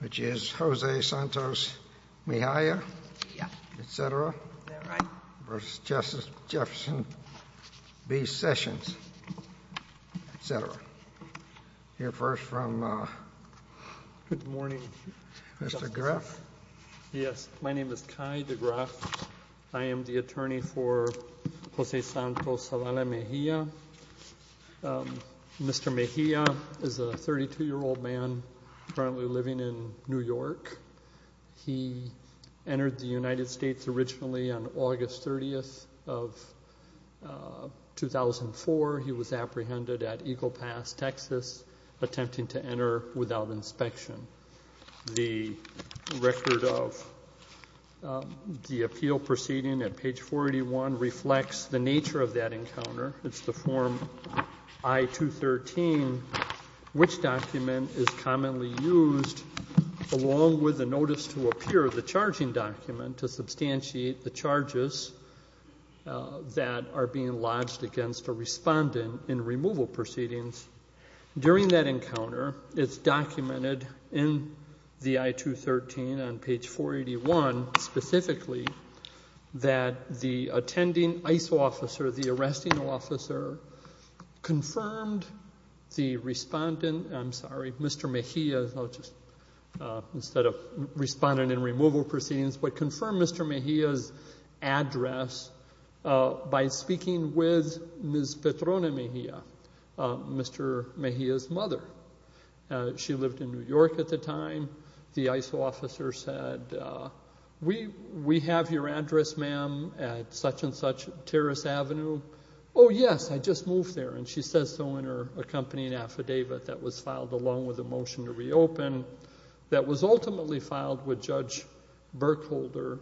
Which is Jose Santos Mejia, etc. v. Jefferson B. Sessions, etc. Hear first from Mr. Greff. Yes, my name is Kai de Greff. I am the attorney for Jose Santos Zavala Mejia. Mr. Mejia is a 32-year-old man currently living in New York. He entered the United States originally on August 30, 2004. He was apprehended at Eagle Pass, Texas, attempting to enter without inspection. The record of the appeal proceeding at page 41 reflects the nature of that encounter. It's the form I-213, which document is commonly used along with the notice to appear, the charging document, to substantiate the charges that are being lodged against a respondent in removal proceedings. During that encounter, it's documented in the I-213 on page 481 specifically that the attending ISO officer, the arresting officer, confirmed the respondent, I'm sorry, Mr. Mejia, instead of respondent in removal proceedings, but confirmed Mr. Mejia's address by speaking with Ms. Petrone Mejia, Mr. Mejia's mother. She lived in New York at the time. The ISO officer said, we have your address, ma'am, at such-and-such Terrace Avenue. Oh, yes, I just moved there, and she says so in her accompanying affidavit that was filed along with the motion to reopen that was ultimately filed with Judge Burkholder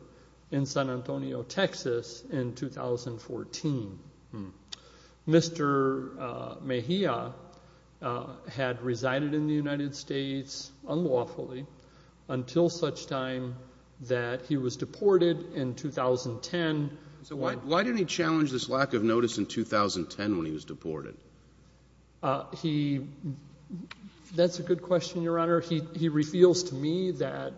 in San Antonio, Texas, in 2014. Mr. Mejia had resided in the United States unlawfully until such time that he was deported in 2010. So why didn't he challenge this lack of notice in 2010 when he was deported? That's a good question, Your Honor. He reveals to me that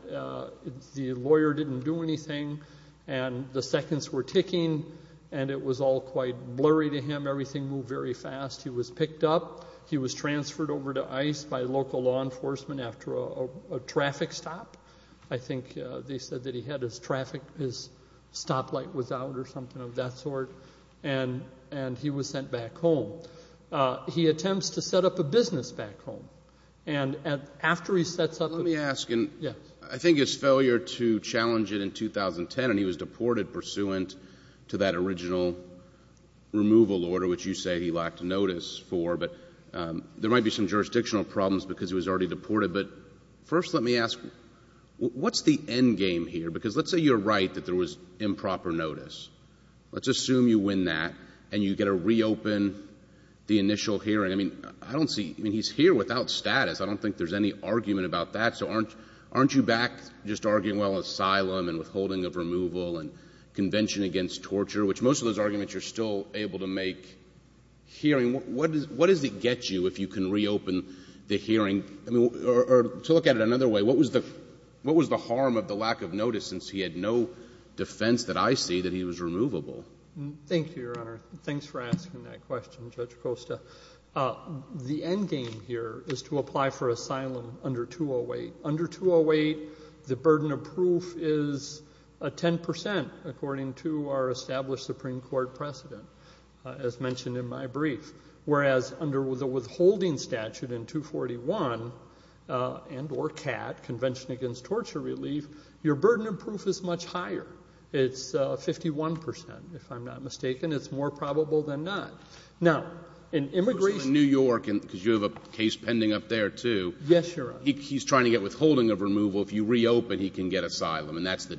the lawyer didn't do anything, and the seconds were ticking, and it was all quite blurry to him. Everything moved very fast. He was picked up. He was transferred over to ICE by local law enforcement after a traffic stop. I think they said that he had his traffic, his stoplight was out or something of that sort, and he was sent back home. He attempts to set up a business back home. And after he sets up the business— Let me ask, and I think his failure to challenge it in 2010, and he was deported pursuant to that original removal order, which you say he lacked notice for, but there might be some jurisdictional problems because he was already deported. But first let me ask, what's the endgame here? Because let's say you're right that there was improper notice. Let's assume you win that, and you get to reopen the initial hearing. I mean, I don't see—I mean, he's here without status. I don't think there's any argument about that. So aren't you back just arguing, well, asylum and withholding of removal and convention against torture, which most of those arguments you're still able to make hearing? What does it get you if you can reopen the hearing? Or to look at it another way, what was the harm of the lack of notice since he had no defense that I see that he was removable? Thank you, Your Honor. Thanks for asking that question, Judge Costa. The endgame here is to apply for asylum under 208. Under 208, the burden of proof is 10 percent, according to our established Supreme Court precedent, as mentioned in my brief, whereas under the withholding statute in 241 and or CAT, Convention Against Torture Relief, your burden of proof is much higher. It's 51 percent, if I'm not mistaken. It's more probable than not. Now, in immigration— In New York, because you have a case pending up there, too. Yes, Your Honor. He's trying to get withholding of removal. If you reopen, he can get asylum, and that's the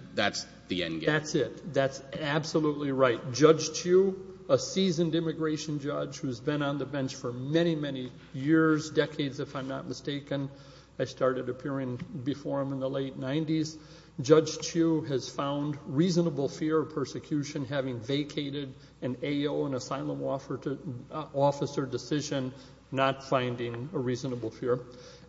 endgame. That's it. That's absolutely right. Judge Chu, a seasoned immigration judge who's been on the bench for many, many years, decades, if I'm not mistaken. I started appearing before him in the late 90s. Judge Chu has found reasonable fear of persecution, having vacated an AO, an asylum officer decision, not finding a reasonable fear.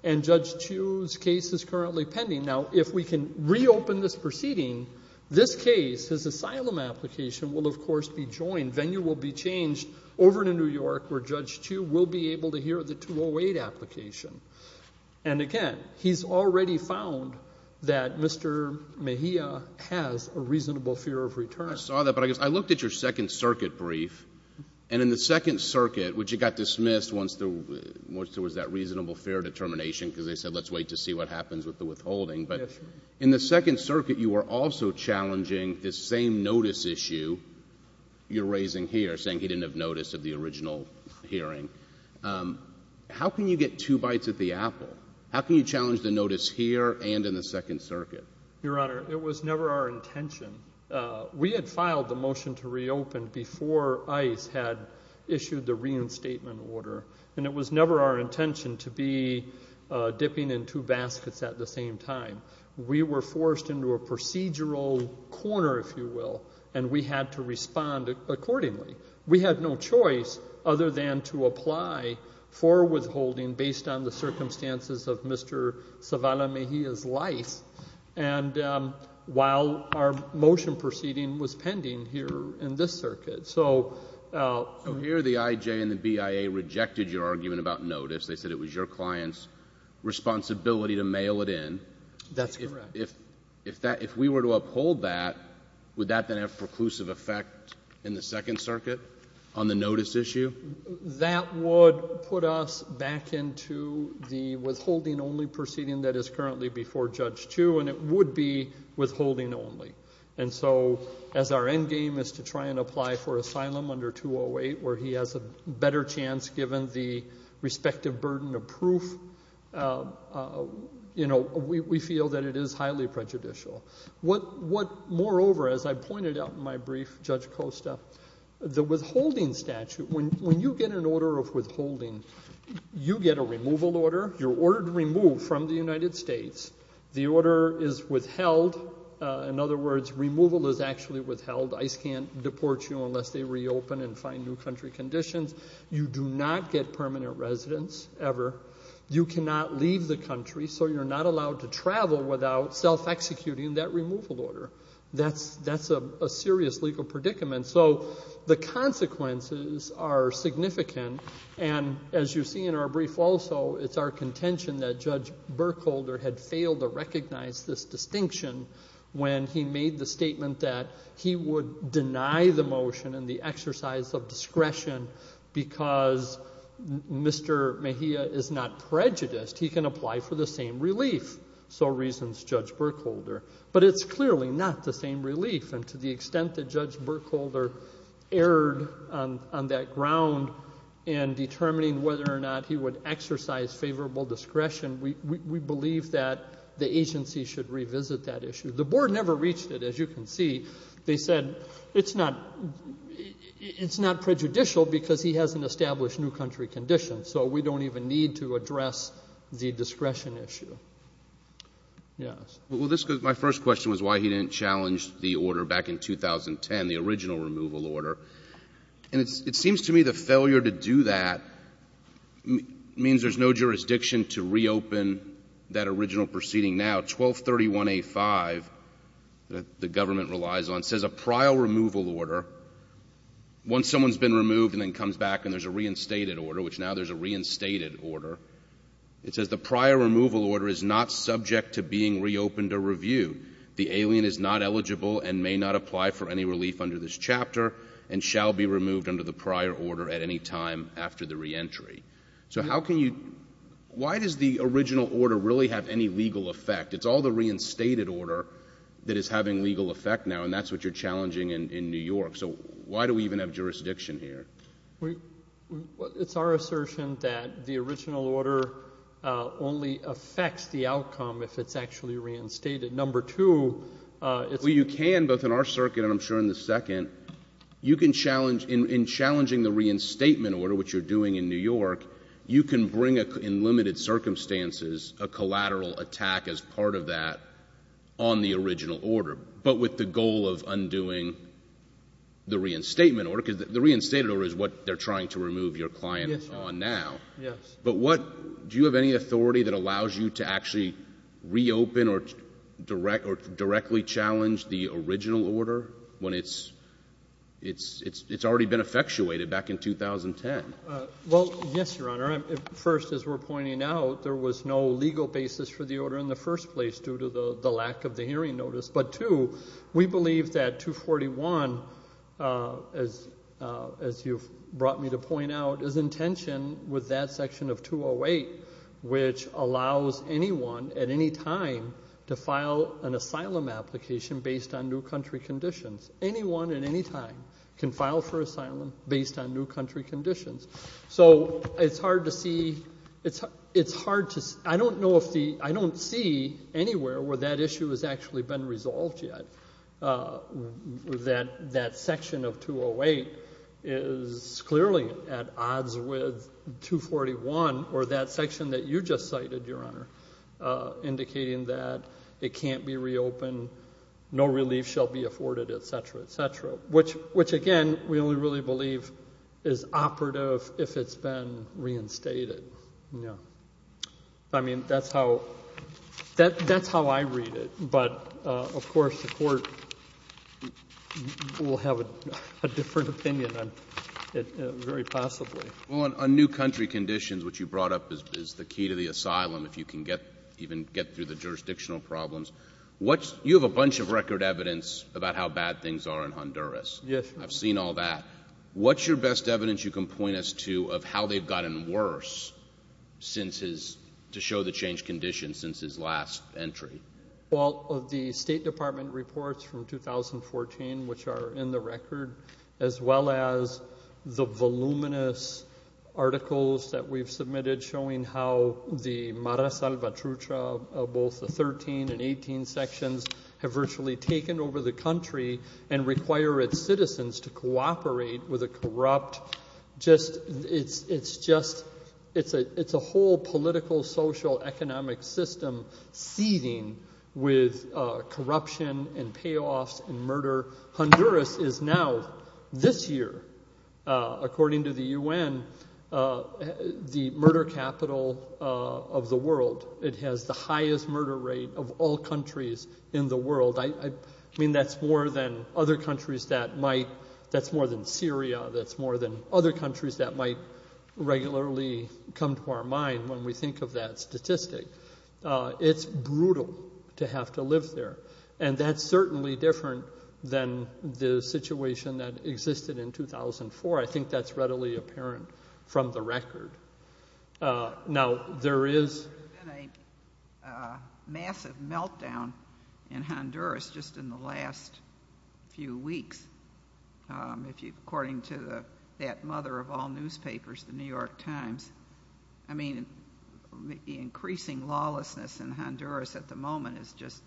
And Judge Chu's case is currently pending. Now, if we can reopen this proceeding, this case, his asylum application, will, of course, be joined. Venue will be changed over to New York, where Judge Chu will be able to hear the 208 application. And again, he's already found that Mr. Mejia has a reasonable fear of return. I saw that, but I looked at your Second Circuit brief, and in the Second Circuit, which it got dismissed once there was that reasonable fear determination, because they said, let's wait to see what happens with the withholding. But in the Second Circuit, you were also challenging this same notice issue you're raising here, saying he didn't have notice of the original hearing. How can you get two bites at the apple? How can you challenge the notice here and in the Second Circuit? Your Honor, it was never our intention. We had filed the motion to reopen before ICE had issued the reinstatement order, and it was never our intention to be dipping in two baskets at the same time. We were forced into a procedural corner, if you will, and we had to respond accordingly. We had no choice other than to apply for withholding based on the circumstances of Mr. Zavala Mejia's life, and while our motion proceeding was pending here in this circuit. So here the IJ and the BIA rejected your argument about notice. They said it was your client's responsibility to mail it in. That's correct. If we were to uphold that, would that then have preclusive effect in the Second Circuit on the notice issue? That would put us back into the withholding only proceeding that is currently before Judge Chu, and it would be withholding only. And so as our end game is to try and apply for asylum under 208, where he has a better chance given the respective burden of proof, we feel that it is highly prejudicial. Moreover, as I pointed out in my brief, Judge Costa, the withholding statute, when you get an order of withholding, you get a removal order. You're ordered to remove from the United States. The order is withheld. In other words, removal is actually withheld. ICE can't deport you unless they reopen and find new country conditions. You do not get permanent residence ever. You cannot leave the country, so you're not allowed to travel without self-executing that removal order. That's a serious legal predicament. So the consequences are significant, and as you see in our brief also, it's our contention that Judge Berkholder had failed to recognize this distinction when he made the statement that he would deny the motion and the exercise of discretion because Mr. Mejia is not prejudiced. He can apply for the same relief. So reasons Judge Berkholder. But it's clearly not the same relief, and to the extent that Judge Berkholder erred on that ground in determining whether or not he would exercise favorable discretion, we believe that the agency should revisit that issue. The board never reached it, as you can see. They said it's not prejudicial because he hasn't established new country conditions, so we don't even need to address the discretion issue. Yes. Well, my first question was why he didn't challenge the order back in 2010, the original removal order. And it seems to me the failure to do that means there's no jurisdiction to reopen that original proceeding now, and 1231A5 that the government relies on says a prior removal order, once someone's been removed and then comes back and there's a reinstated order, which now there's a reinstated order, it says the prior removal order is not subject to being reopened or reviewed. The alien is not eligible and may not apply for any relief under this chapter and shall be removed under the prior order at any time after the reentry. So how can you why does the original order really have any legal effect? It's all the reinstated order that is having legal effect now, and that's what you're challenging in New York. So why do we even have jurisdiction here? It's our assertion that the original order only affects the outcome if it's actually reinstated. Number two, it's a Well, you can both in our circuit and I'm sure in the second. In challenging the reinstatement order, which you're doing in New York, you can bring in limited circumstances a collateral attack as part of that on the original order, but with the goal of undoing the reinstatement order, because the reinstated order is what they're trying to remove your client on now. Yes. But what do you have any authority that allows you to actually reopen or direct or directly challenge the original order when it's it's it's it's already been effectuated back in 2010? Well, yes, Your Honor. First, as we're pointing out, there was no legal basis for the order in the first place due to the lack of the hearing notice. But two, we believe that 241, as as you've brought me to point out, is intention with that section of 208, which allows anyone at any time to file an asylum application based on new country conditions. Anyone at any time can file for asylum based on new country conditions. So it's hard to see. It's it's hard to I don't know if the I don't see anywhere where that issue has actually been resolved yet. That that section of 208 is clearly at odds with 241 or that section that you just cited, Your Honor, indicating that it can't be reopened. No relief shall be afforded, et cetera, et cetera. Which which, again, we only really believe is operative if it's been reinstated. Yeah. I mean, that's how that that's how I read it. But of course, the court will have a different opinion on it very possibly. On a new country conditions, which you brought up is the key to the asylum. If you can get even get through the jurisdictional problems, what you have a bunch of record evidence about how bad things are in Honduras. Yes, I've seen all that. What's your best evidence you can point us to of how they've gotten worse since his to show the changed conditions since his last entry? Well, the State Department reports from 2014, which are in the record, as well as the voluminous articles that we've submitted showing how the Mara Salvatrucha, both the 13 and 18 sections have virtually taken over the country and require its citizens to cooperate with a corrupt. Just it's it's just it's a it's a whole political, social, economic system seething with corruption and payoffs and murder. Honduras is now this year, according to the UN, the murder capital of the world. It has the highest murder rate of all countries in the world. I mean, that's more than other countries that might. That's more than Syria. That's more than other countries that might regularly come to our mind when we think of that statistic. It's brutal to have to live there. And that's certainly different than the situation that existed in 2004. I think that's readily apparent from the record. Now, there is a massive meltdown in Honduras just in the last few weeks. If you according to that mother of all newspapers, the New York Times. I mean, increasing lawlessness in Honduras at the moment is just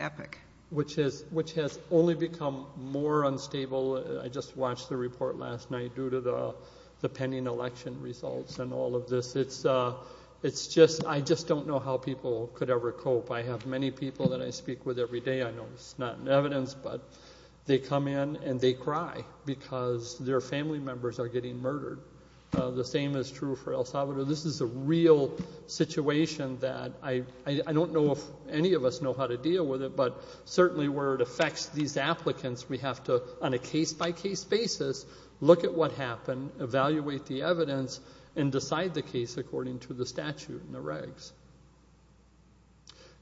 epic. Which is which has only become more unstable. I just watched the report last night due to the pending election results and all of this. It's it's just I just don't know how people could ever cope. I have many people that I speak with every day. I know it's not in evidence, but they come in and they cry because their family members are getting murdered. The same is true for El Salvador. This is a real situation that I don't know if any of us know how to deal with it. But certainly where it affects these applicants, we have to on a case by case basis, look at what happened, evaluate the evidence and decide the case according to the statute and the regs.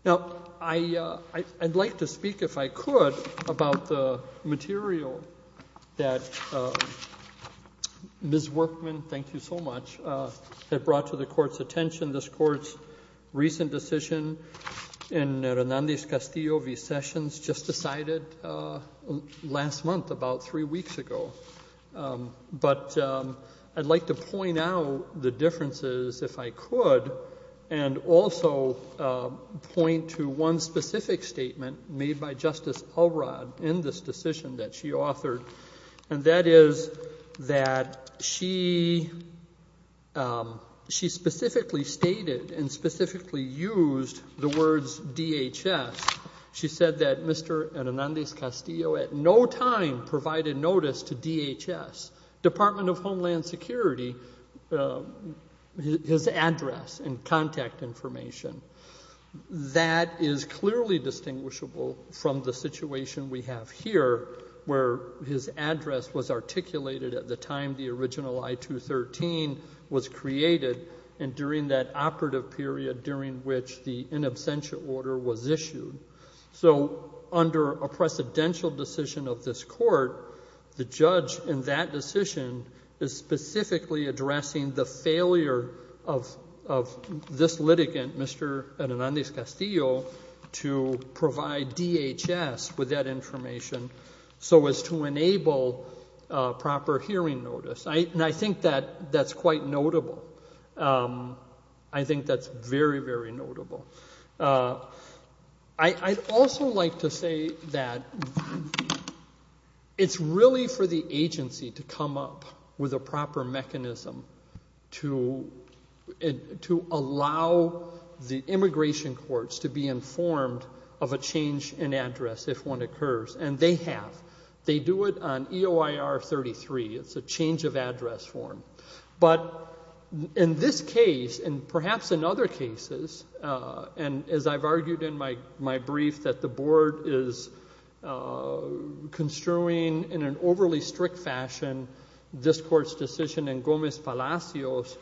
Now, I'd like to speak, if I could, about the material that Ms. Workman, thank you so much, had brought to the court's attention, this court's recent decision in Hernandez Castillo v. Sessions, just decided last month, about three weeks ago. But I'd like to point out the differences, if I could, and also point to one specific statement made by Justice Alrod in this decision that she authored. And that is that she she specifically stated and specifically used the words DHS. She said that Mr. Hernandez Castillo at no time provided notice to DHS, Department of Homeland Security. His address and contact information. That is clearly distinguishable from the situation we have here, where his address was articulated at the time the original I-213 was created, and during that operative period during which the in absentia order was issued. So under a precedential decision of this court, the judge in that decision is specifically addressing the failure of this litigant, Mr. Hernandez Castillo, to provide DHS with that information so as to enable proper hearing notice. And I think that that's quite notable. I think that's very, very notable. I'd also like to say that it's really for the agency to come up with a proper mechanism to allow the immigration courts to be informed of a change in address if one occurs. And they have. They do it on EOIR-33. It's a change of address form. But in this case, and perhaps in other cases, and as I've argued in my brief, that the board is construing in an overly strict fashion this court's decision in Gomez-Palacios,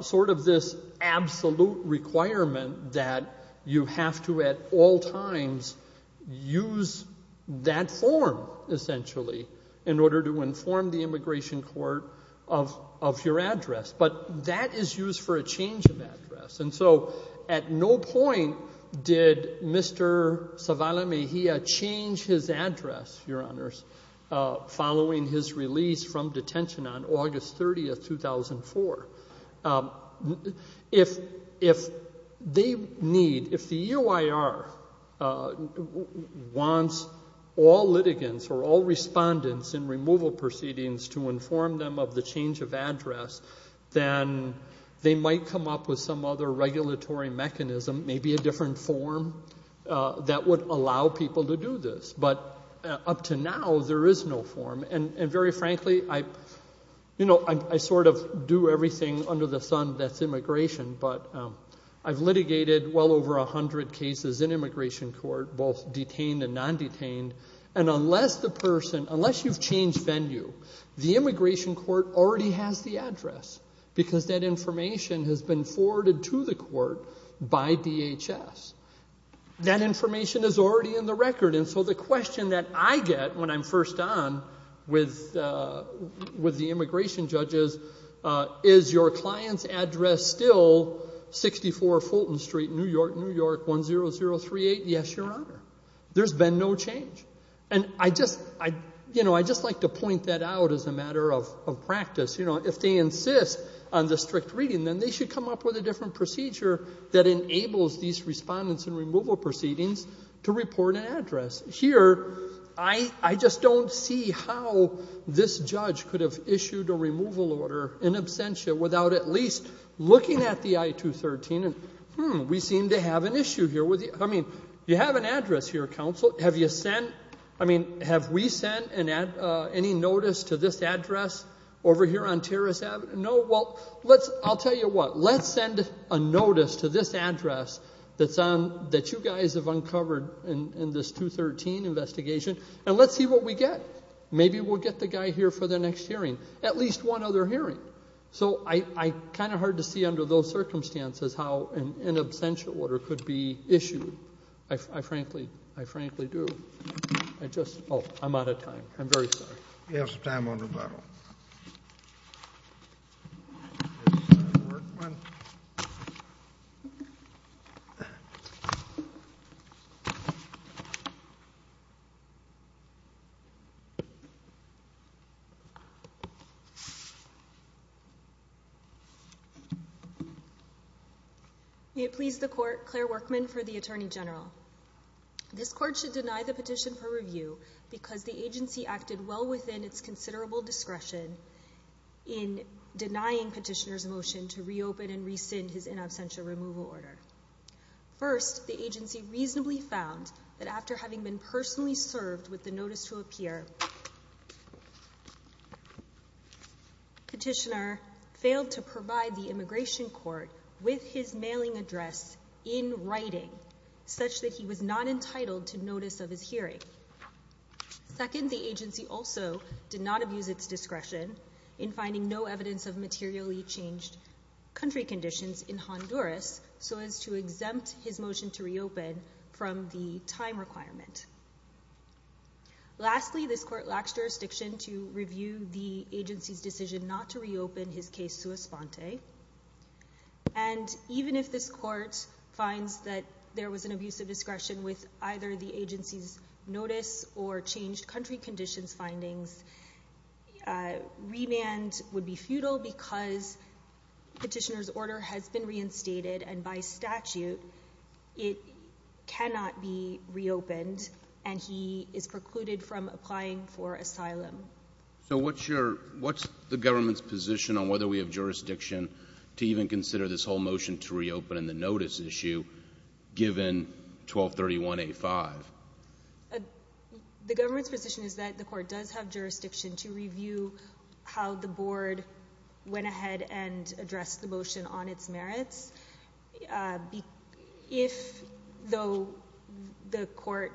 sort of this absolute requirement that you have to at all times use that form, essentially, in order to inform the immigration court of your address. But that is used for a change of address. And so at no point did Mr. Zavala Mejia change his address, Your Honors, following his release from detention on August 30, 2004. If they need, if the EOIR wants all litigants or all respondents in removal proceedings to inform them of the change of address, then they might come up with some other regulatory mechanism, maybe a different form that would allow people to do this. But up to now, there is no form. And very frankly, I sort of do everything under the sun that's immigration. But I've litigated well over 100 cases in immigration court, both detained and non-detained. And unless the person, unless you've changed venue, the immigration court already has the address because that information has been forwarded to the court by DHS. That information is already in the record. And so the question that I get when I'm first on with the immigration judges, is your client's address still 64 Fulton Street, New York, New York, 10038? Yes, Your Honor. There's been no change. And I just like to point that out as a matter of practice. If they insist on the strict reading, then they should come up with a different procedure that enables these respondents in removal proceedings to report an address. Here, I just don't see how this judge could have issued a removal order in absentia without at least looking at the I-213 and, hmm, we seem to have an issue here. I mean, you have an address here, counsel. Have you sent, I mean, have we sent any notice to this address over here on Terrace Avenue? No? Well, I'll tell you what. Let's send a notice to this address that you guys have uncovered in this 213 investigation and let's see what we get. Maybe we'll get the guy here for the next hearing, at least one other hearing. So it's kind of hard to see under those circumstances how an absentia order could be issued. I frankly do. I just, oh, I'm out of time. I'm very sorry. You have some time on rebuttal. Ms. Workman. May it please the Court, Claire Workman for the Attorney General. This Court should deny the petition for review because the agency acted well within its considerable discretion in denying Petitioner's motion to reopen and rescind his in absentia removal order. First, the agency reasonably found that after having been personally served with the notice to appear, Petitioner failed to provide the immigration court with his mailing address in writing such that he was not entitled to notice of his hearing. Second, the agency also did not abuse its discretion in finding no evidence of materially changed country conditions in Honduras so as to exempt his motion to reopen from the time requirement. Lastly, this Court lacks jurisdiction to review the agency's decision not to reopen his case sua sponte. And even if this Court finds that there was an abuse of discretion with either the agency's notice or changed country conditions findings, remand would be futile because Petitioner's order has been reinstated and by statute it cannot be reopened and he is precluded from applying for asylum. So what's the government's position on whether we have jurisdiction to even consider this whole motion to reopen and the notice issue given 1231A5? The government's position is that the Court does have jurisdiction to review how the Board went ahead and addressed the motion on its merits. If, though, the Court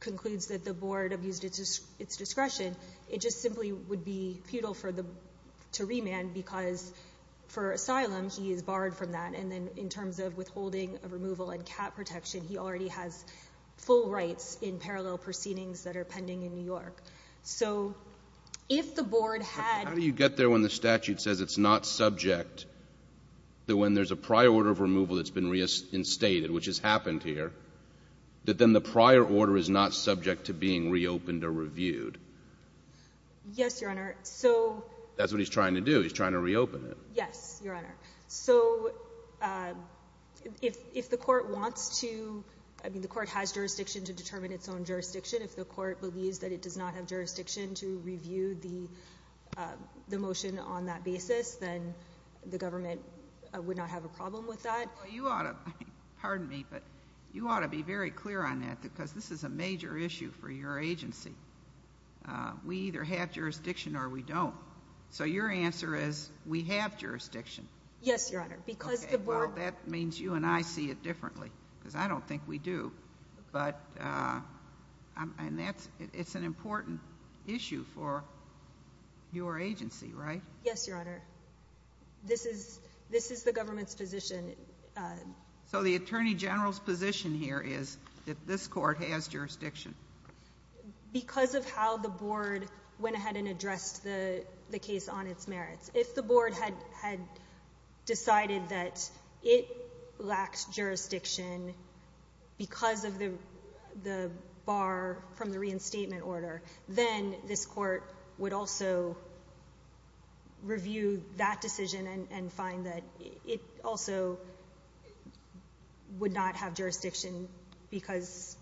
concludes that the Board abused its discretion, it just simply would be futile to remand because for asylum he is barred from that and then in terms of withholding a removal and cap protection, he already has full rights in parallel proceedings that are pending in New York. So if the Board had— that when there's a prior order of removal that's been reinstated, which has happened here, that then the prior order is not subject to being reopened or reviewed. Yes, Your Honor. So— That's what he's trying to do. He's trying to reopen it. Yes, Your Honor. So if the Court wants to—I mean, the Court has jurisdiction to determine its own jurisdiction. If the Court believes that it does not have jurisdiction to review the motion on that basis, then the government would not have a problem with that. Well, you ought to—pardon me, but you ought to be very clear on that because this is a major issue for your agency. We either have jurisdiction or we don't. So your answer is we have jurisdiction. Yes, Your Honor, because the Board— Okay, well, that means you and I see it differently because I don't think we do. But—and that's—it's an important issue for your agency, right? Yes, Your Honor. This is the government's position. So the Attorney General's position here is that this Court has jurisdiction. Because of how the Board went ahead and addressed the case on its merits. If the Board had decided that it lacked jurisdiction because of the bar from the reinstatement order, then this Court would also review that decision and find that it also would not have jurisdiction because—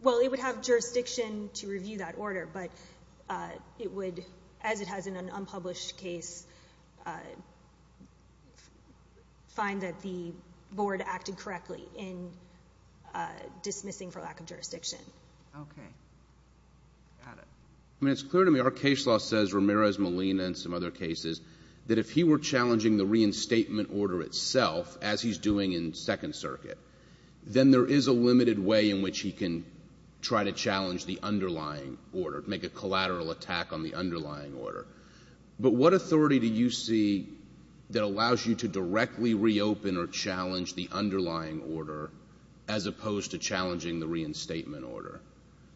well, it would have jurisdiction to review that order, but it would, as it has in an unpublished case, find that the Board acted correctly in dismissing for lack of jurisdiction. Okay. Got it. I mean, it's clear to me. Our case law says, Ramirez-Molina and some other cases, that if he were challenging the reinstatement order itself, as he's doing in Second Circuit, then there is a limited way in which he can try to challenge the underlying order, make a collateral attack on the underlying order. But what authority do you see that allows you to directly reopen or challenge the underlying order as opposed to challenging the reinstatement order?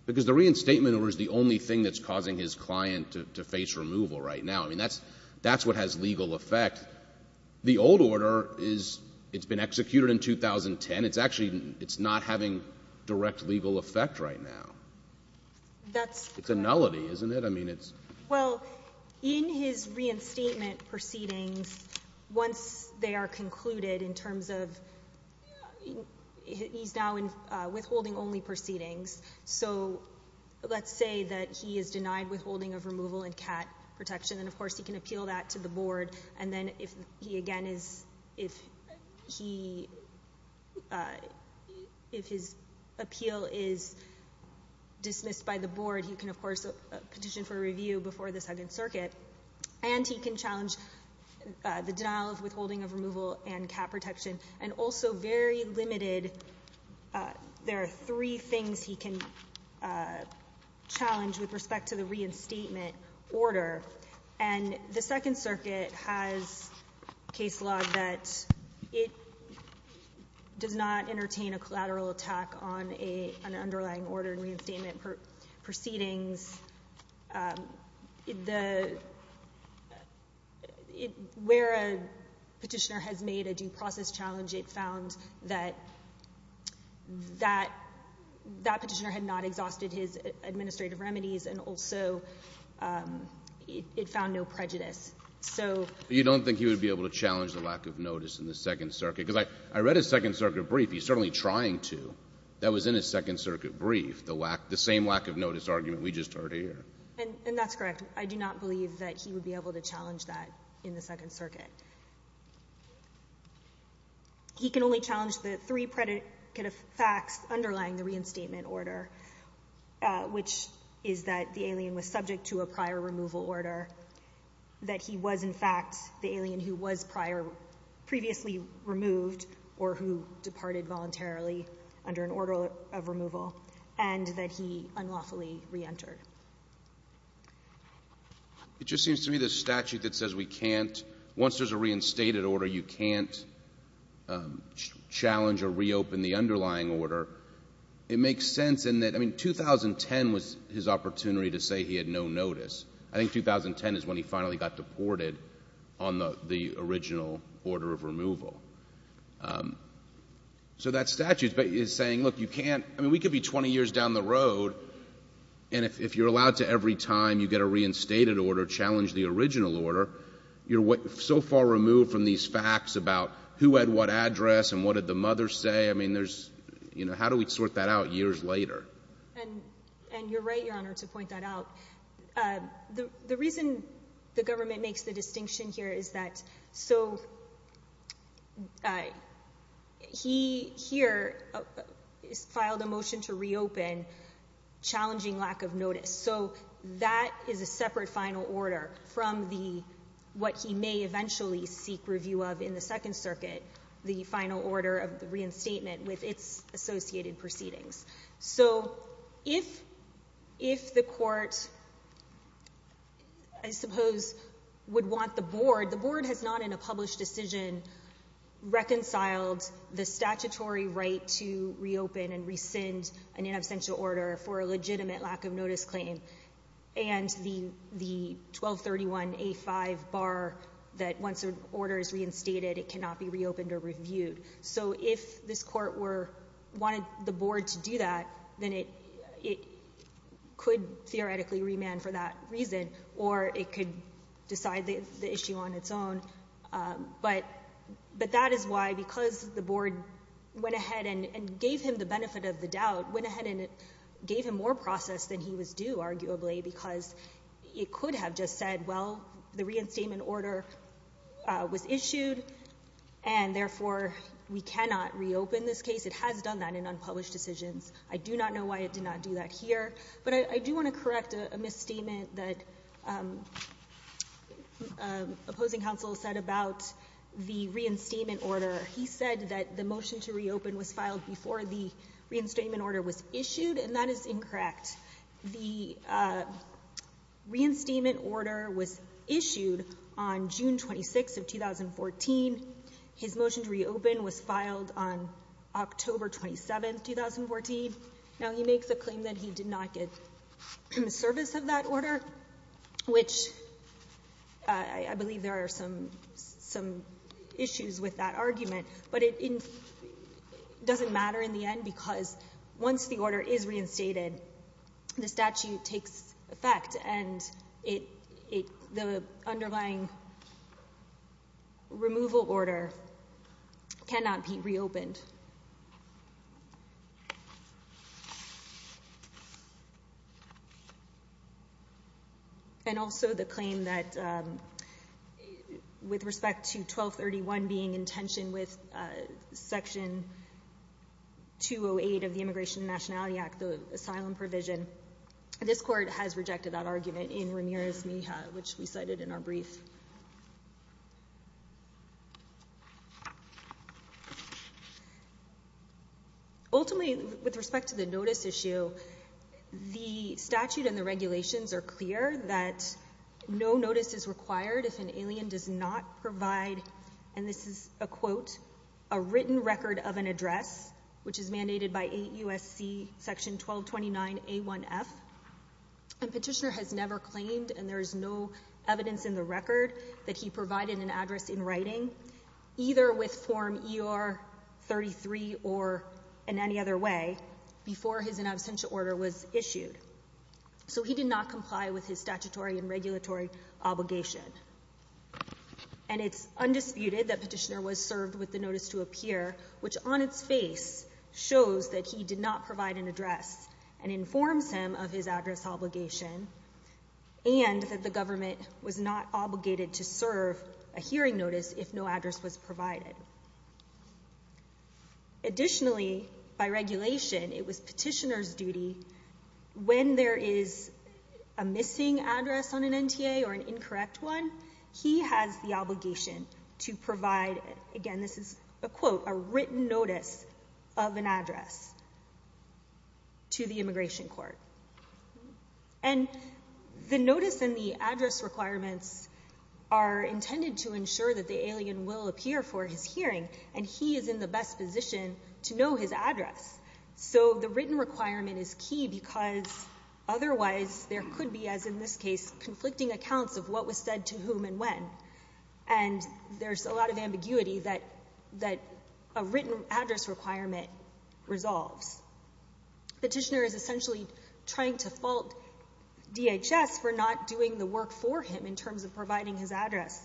Because the reinstatement order is the only thing that's causing his client to face removal right now. I mean, that's what has legal effect. The old order, it's been executed in 2010. It's actually not having direct legal effect right now. That's correct. It's a nullity, isn't it? Well, in his reinstatement proceedings, once they are concluded in terms of he's now withholding only proceedings, so let's say that he is denied withholding of removal and CAT protection, and, of course, he can appeal that to the Board, and then if he, again, if his appeal is dismissed by the Board, he can, of course, petition for a review before the Second Circuit. And he can challenge the denial of withholding of removal and CAT protection. And also very limited, there are three things he can challenge with respect to the reinstatement order. And the Second Circuit has case law that it does not entertain a collateral attack on an underlying order in reinstatement proceedings. Where a petitioner has made a due process challenge, it found that that petitioner had not exhausted his administrative remedies, and also it found no prejudice. So you don't think he would be able to challenge the lack of notice in the Second Circuit? Because I read his Second Circuit brief. He's certainly trying to. That was in his Second Circuit brief, the same lack of notice argument we just heard here. And that's correct. I do not believe that he would be able to challenge that in the Second Circuit. He can only challenge the three predicate of facts underlying the reinstatement order, which is that the alien was subject to a prior removal order, that he was, in fact, the alien who was previously removed or who departed voluntarily under an order of removal, and that he unlawfully reentered. It just seems to me the statute that says we can't, once there's a reinstated order, you can't challenge or reopen the underlying order. It makes sense in that, I mean, 2010 was his opportunity to say he had no notice. I think 2010 is when he finally got deported on the original order of removal. So that statute is saying, look, you can't. I mean, we could be 20 years down the road, and if you're allowed to every time you get a reinstated order challenge the original order, you're so far removed from these facts about who had what address and what did the mother say. I mean, there's, you know, how do we sort that out years later? And you're right, Your Honor, to point that out. The reason the government makes the distinction here is that so he here filed a motion to reopen, challenging lack of notice. So that is a separate final order from what he may eventually seek review of in the Second Circuit, the final order of the reinstatement with its associated proceedings. So if the court, I suppose, would want the board, the board has not in a published decision reconciled the statutory right to reopen and rescind an inabsential order for a legitimate lack of notice claim and the 1231A5 bar that once an order is reinstated it cannot be reopened or reviewed. So if this court wanted the board to do that, then it could theoretically remand for that reason or it could decide the issue on its own. But that is why because the board went ahead and gave him the benefit of the doubt, went ahead and gave him more process than he was due, arguably, because it could have just said, well, the reinstatement order was issued and therefore we cannot reopen this case. It has done that in unpublished decisions. I do not know why it did not do that here. But I do want to correct a misstatement that opposing counsel said about the reinstatement order. He said that the motion to reopen was filed before the reinstatement order was issued, and that is incorrect. He said that the reinstatement order was issued on June 26 of 2014. His motion to reopen was filed on October 27, 2014. Now, he makes a claim that he did not get service of that order, which I believe there are some issues with that argument. But it doesn't matter in the end because once the order is reinstated, the statute takes effect and the underlying removal order cannot be reopened. And also the claim that with respect to 1231 being in tension with Section 208 of the Immigration and Nationality Act, the asylum provision, this court has rejected that argument in Ramirez-Mija, which we cited in our brief. Ultimately, with respect to the notice issue, the statute and the regulations are clear that no notice is required if an alien does not provide, and this is a quote, a written record of an address, which is mandated by 8 U.S.C. Section 1229A1F, and Petitioner has never claimed, and there is no evidence in the record, that he provided an address in writing, either with Form ER-33 or in any other way, before his in absentia order was issued. So he did not comply with his statutory and regulatory obligation. And it's undisputed that Petitioner was served with the notice to appear, which on its face shows that he did not provide an address and informs him of his address obligation and that the government was not obligated to serve a hearing notice if no address was provided. Additionally, by regulation, it was Petitioner's duty, when there is a missing address on an NTA or an incorrect one, he has the obligation to provide, again, this is a quote, a written notice of an address to the immigration court. And the notice and the address requirements are intended to ensure that the alien will appear for his hearing, and he is in the best position to know his address. So the written requirement is key because otherwise there could be, as in this case, conflicting accounts of what was said to whom and when, and there's a lot of ambiguity that a written address requirement resolves. Petitioner is essentially trying to fault DHS for not doing the work for him in terms of providing his address,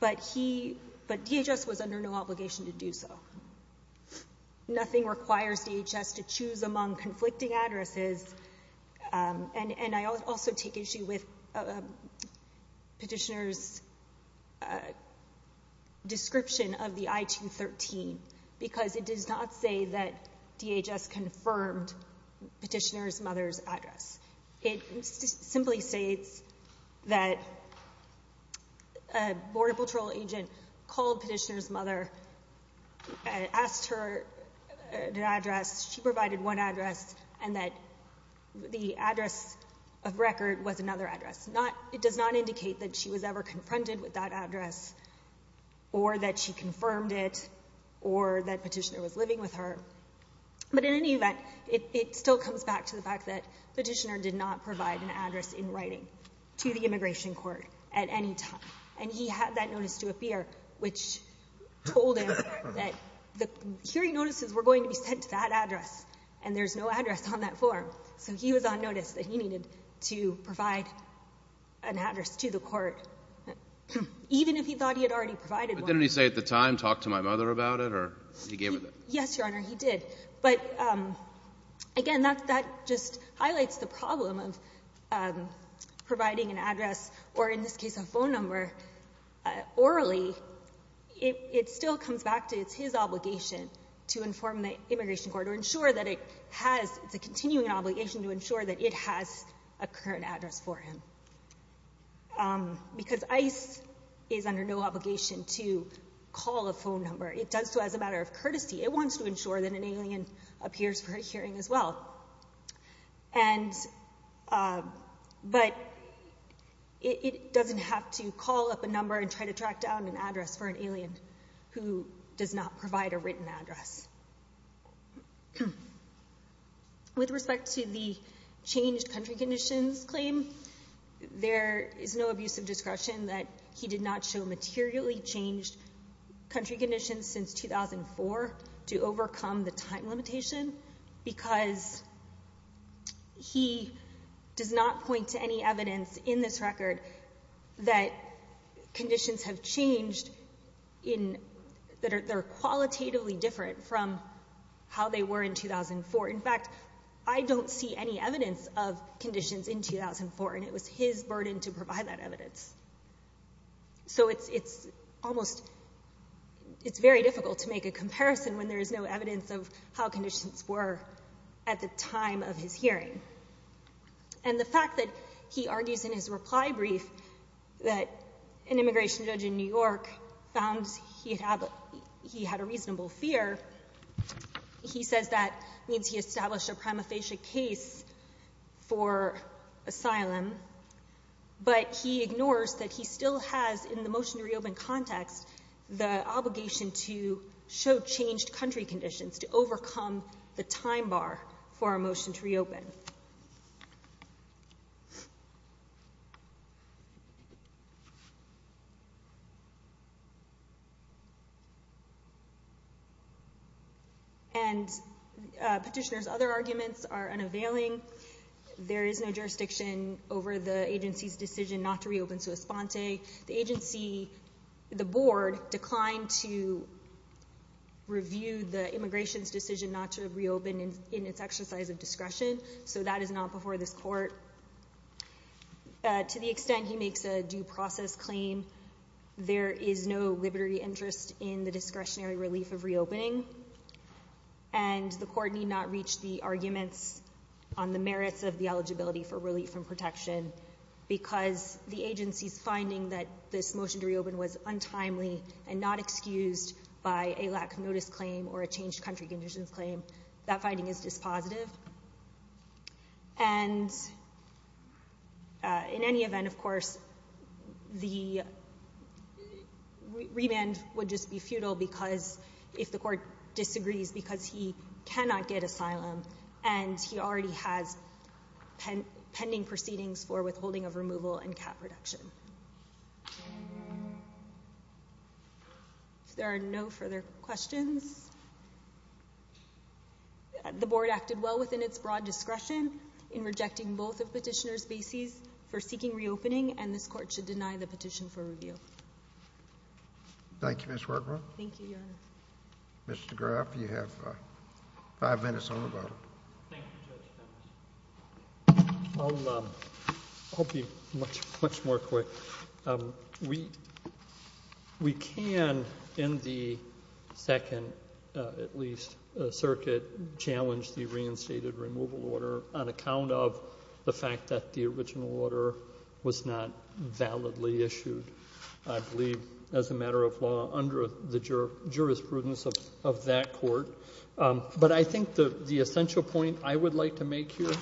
but DHS was under no obligation to do so. Nothing requires DHS to choose among conflicting addresses, and I also take issue with Petitioner's description of the I-213 because it does not say that DHS confirmed Petitioner's mother's address. It simply states that a Border Patrol agent called Petitioner's mother and asked her an address. She provided one address and that the address of record was another address. It does not indicate that she was ever confronted with that address or that she confirmed it or that Petitioner was living with her. But in any event, it still comes back to the fact that Petitioner did not provide an address in writing to the immigration court at any time, and he had that notice to appear, which told him that the hearing notices were going to be sent to that address, and there's no address on that form. So he was on notice that he needed to provide an address to the court, even if he thought he had already provided one. Didn't he say at the time, talk to my mother about it, or he gave it to her? Yes, Your Honor, he did. But again, that just highlights the problem of providing an address, or in this case a phone number, orally. It still comes back to it's his obligation to inform the immigration court or ensure that it has the continuing obligation to ensure that it has a current address for him. Because ICE is under no obligation to call a phone number. It does so as a matter of courtesy. It wants to ensure that an alien appears for a hearing as well. But it doesn't have to call up a number and try to track down an address for an alien who does not provide a written address. With respect to the changed country conditions claim, there is no abuse of discretion that he did not show materially changed country conditions since 2004 to overcome the time limitation, because he does not point to any evidence in this record that conditions have changed that are qualitatively different from how they were in 2004. In fact, I don't see any evidence of conditions in 2004, and it was his burden to provide that evidence. So it's very difficult to make a comparison when there is no evidence of how conditions were at the time of his hearing. And the fact that he argues in his reply brief that an immigration judge in New York found he had a reasonable fear, he says that means he established a prima facie case for asylum, but he ignores that he still has, in the motion to reopen context, the obligation to show changed country conditions to overcome the time bar for a motion to reopen. And Petitioner's other arguments are unavailing. There is no jurisdiction over the agency's decision not to reopen Suas Ponte. The agency, the board, declined to review the immigration's decision not to reopen in its exercise of discretion, so that is not before this court. To the extent he makes a due process claim, there is no libertary interest in the discretionary relief of reopening, and the court need not reach the arguments on the merits of the eligibility for relief from protection because the agency's finding that this motion to reopen was untimely and not excused by a lack of notice claim or a changed country conditions claim, that finding is dispositive. And in any event, of course, the remand would just be futile if the court disagrees because he cannot get asylum and he already has pending proceedings for withholding of removal and cap reduction. If there are no further questions... The board acted well within its broad discretion in rejecting both of Petitioner's bases for seeking reopening, and this court should deny the petition for review. Thank you, Ms. Workman. Thank you, Your Honor. Mr. Graf, you have five minutes on the vote. Thank you, Judge Fenton. I'll be much more quick. We can, in the second, at least, circuit, challenge the reinstated removal order on account of the fact that the original order was not validly issued, I believe, as a matter of law under the jurisprudence of that court. But I think the essential point I would like to make here,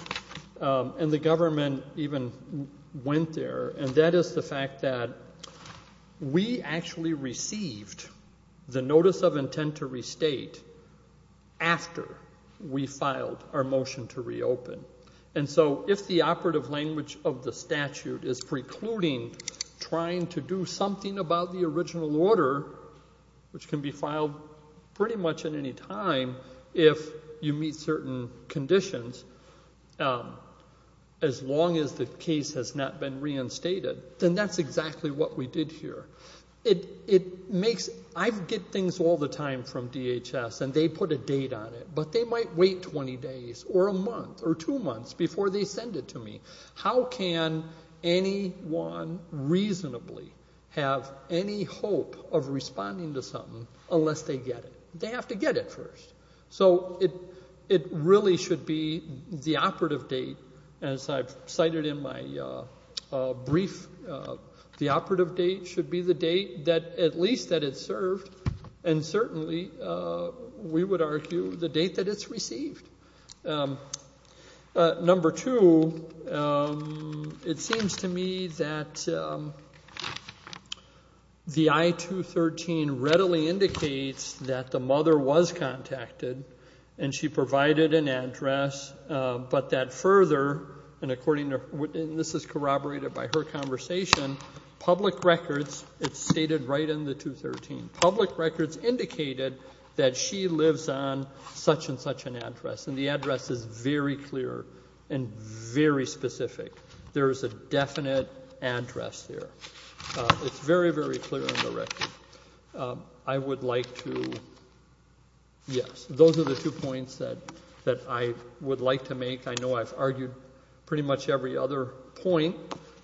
and the government even went there, and that is the fact that we actually received the notice of intent to restate after we filed our motion to reopen. And so if the operative language of the statute is precluding trying to do something about the original order, which can be filed pretty much at any time if you meet certain conditions, as long as the case has not been reinstated, then that's exactly what we did here. It makes... I get things all the time from DHS, and they put a date on it, but they might wait 20 days or a month or two months before they send it to me. How can anyone reasonably have any hope of responding to something unless they get it? They have to get it first. So it really should be the operative date, as I've cited in my brief, the operative date should be the date at least that it's served, and certainly we would argue the date that it's received. Number two, it seems to me that the I-213 readily indicates that the mother was contacted and she provided an address, but that further, and this is corroborated by her conversation, public records, it's stated right in the 213. Public records indicated that she lives on such and such an address, and the address is very clear and very specific. There is a definite address there. It's very, very clear in the record. I would like to... Yes, those are the two points that I would like to make. I know I've argued pretty much every other point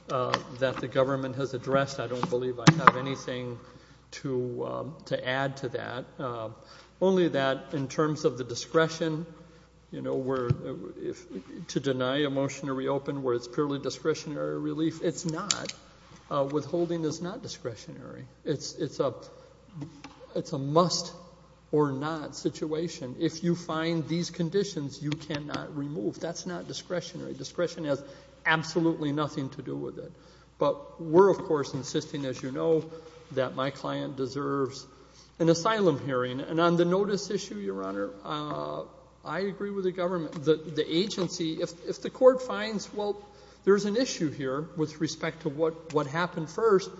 that the government has addressed. I don't believe I have anything to add to that. Only that in terms of the discretion to deny a motion to reopen where it's purely discretionary relief, it's not. Withholding is not discretionary. It's a must-or-not situation. If you find these conditions, you cannot remove. That's not discretionary. Discretion has absolutely nothing to do with it. But we're, of course, insisting, as you know, that my client deserves an asylum hearing. And on the notice issue, Your Honor, I agree with the government. The agency, if the court finds, well, there's an issue here with respect to what happened first,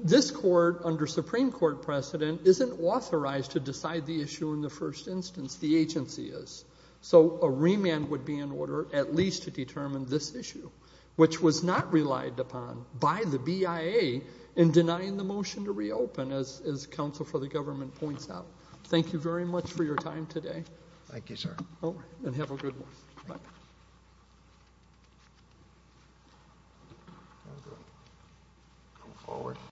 this court under Supreme Court precedent isn't authorized to decide the issue in the first instance. The agency is. So a remand would be in order at least to determine this issue, which was not relied upon by the BIA in denying the motion to reopen, as counsel for the government points out. Thank you very much for your time today. Thank you, sir. And have a good one. Bye.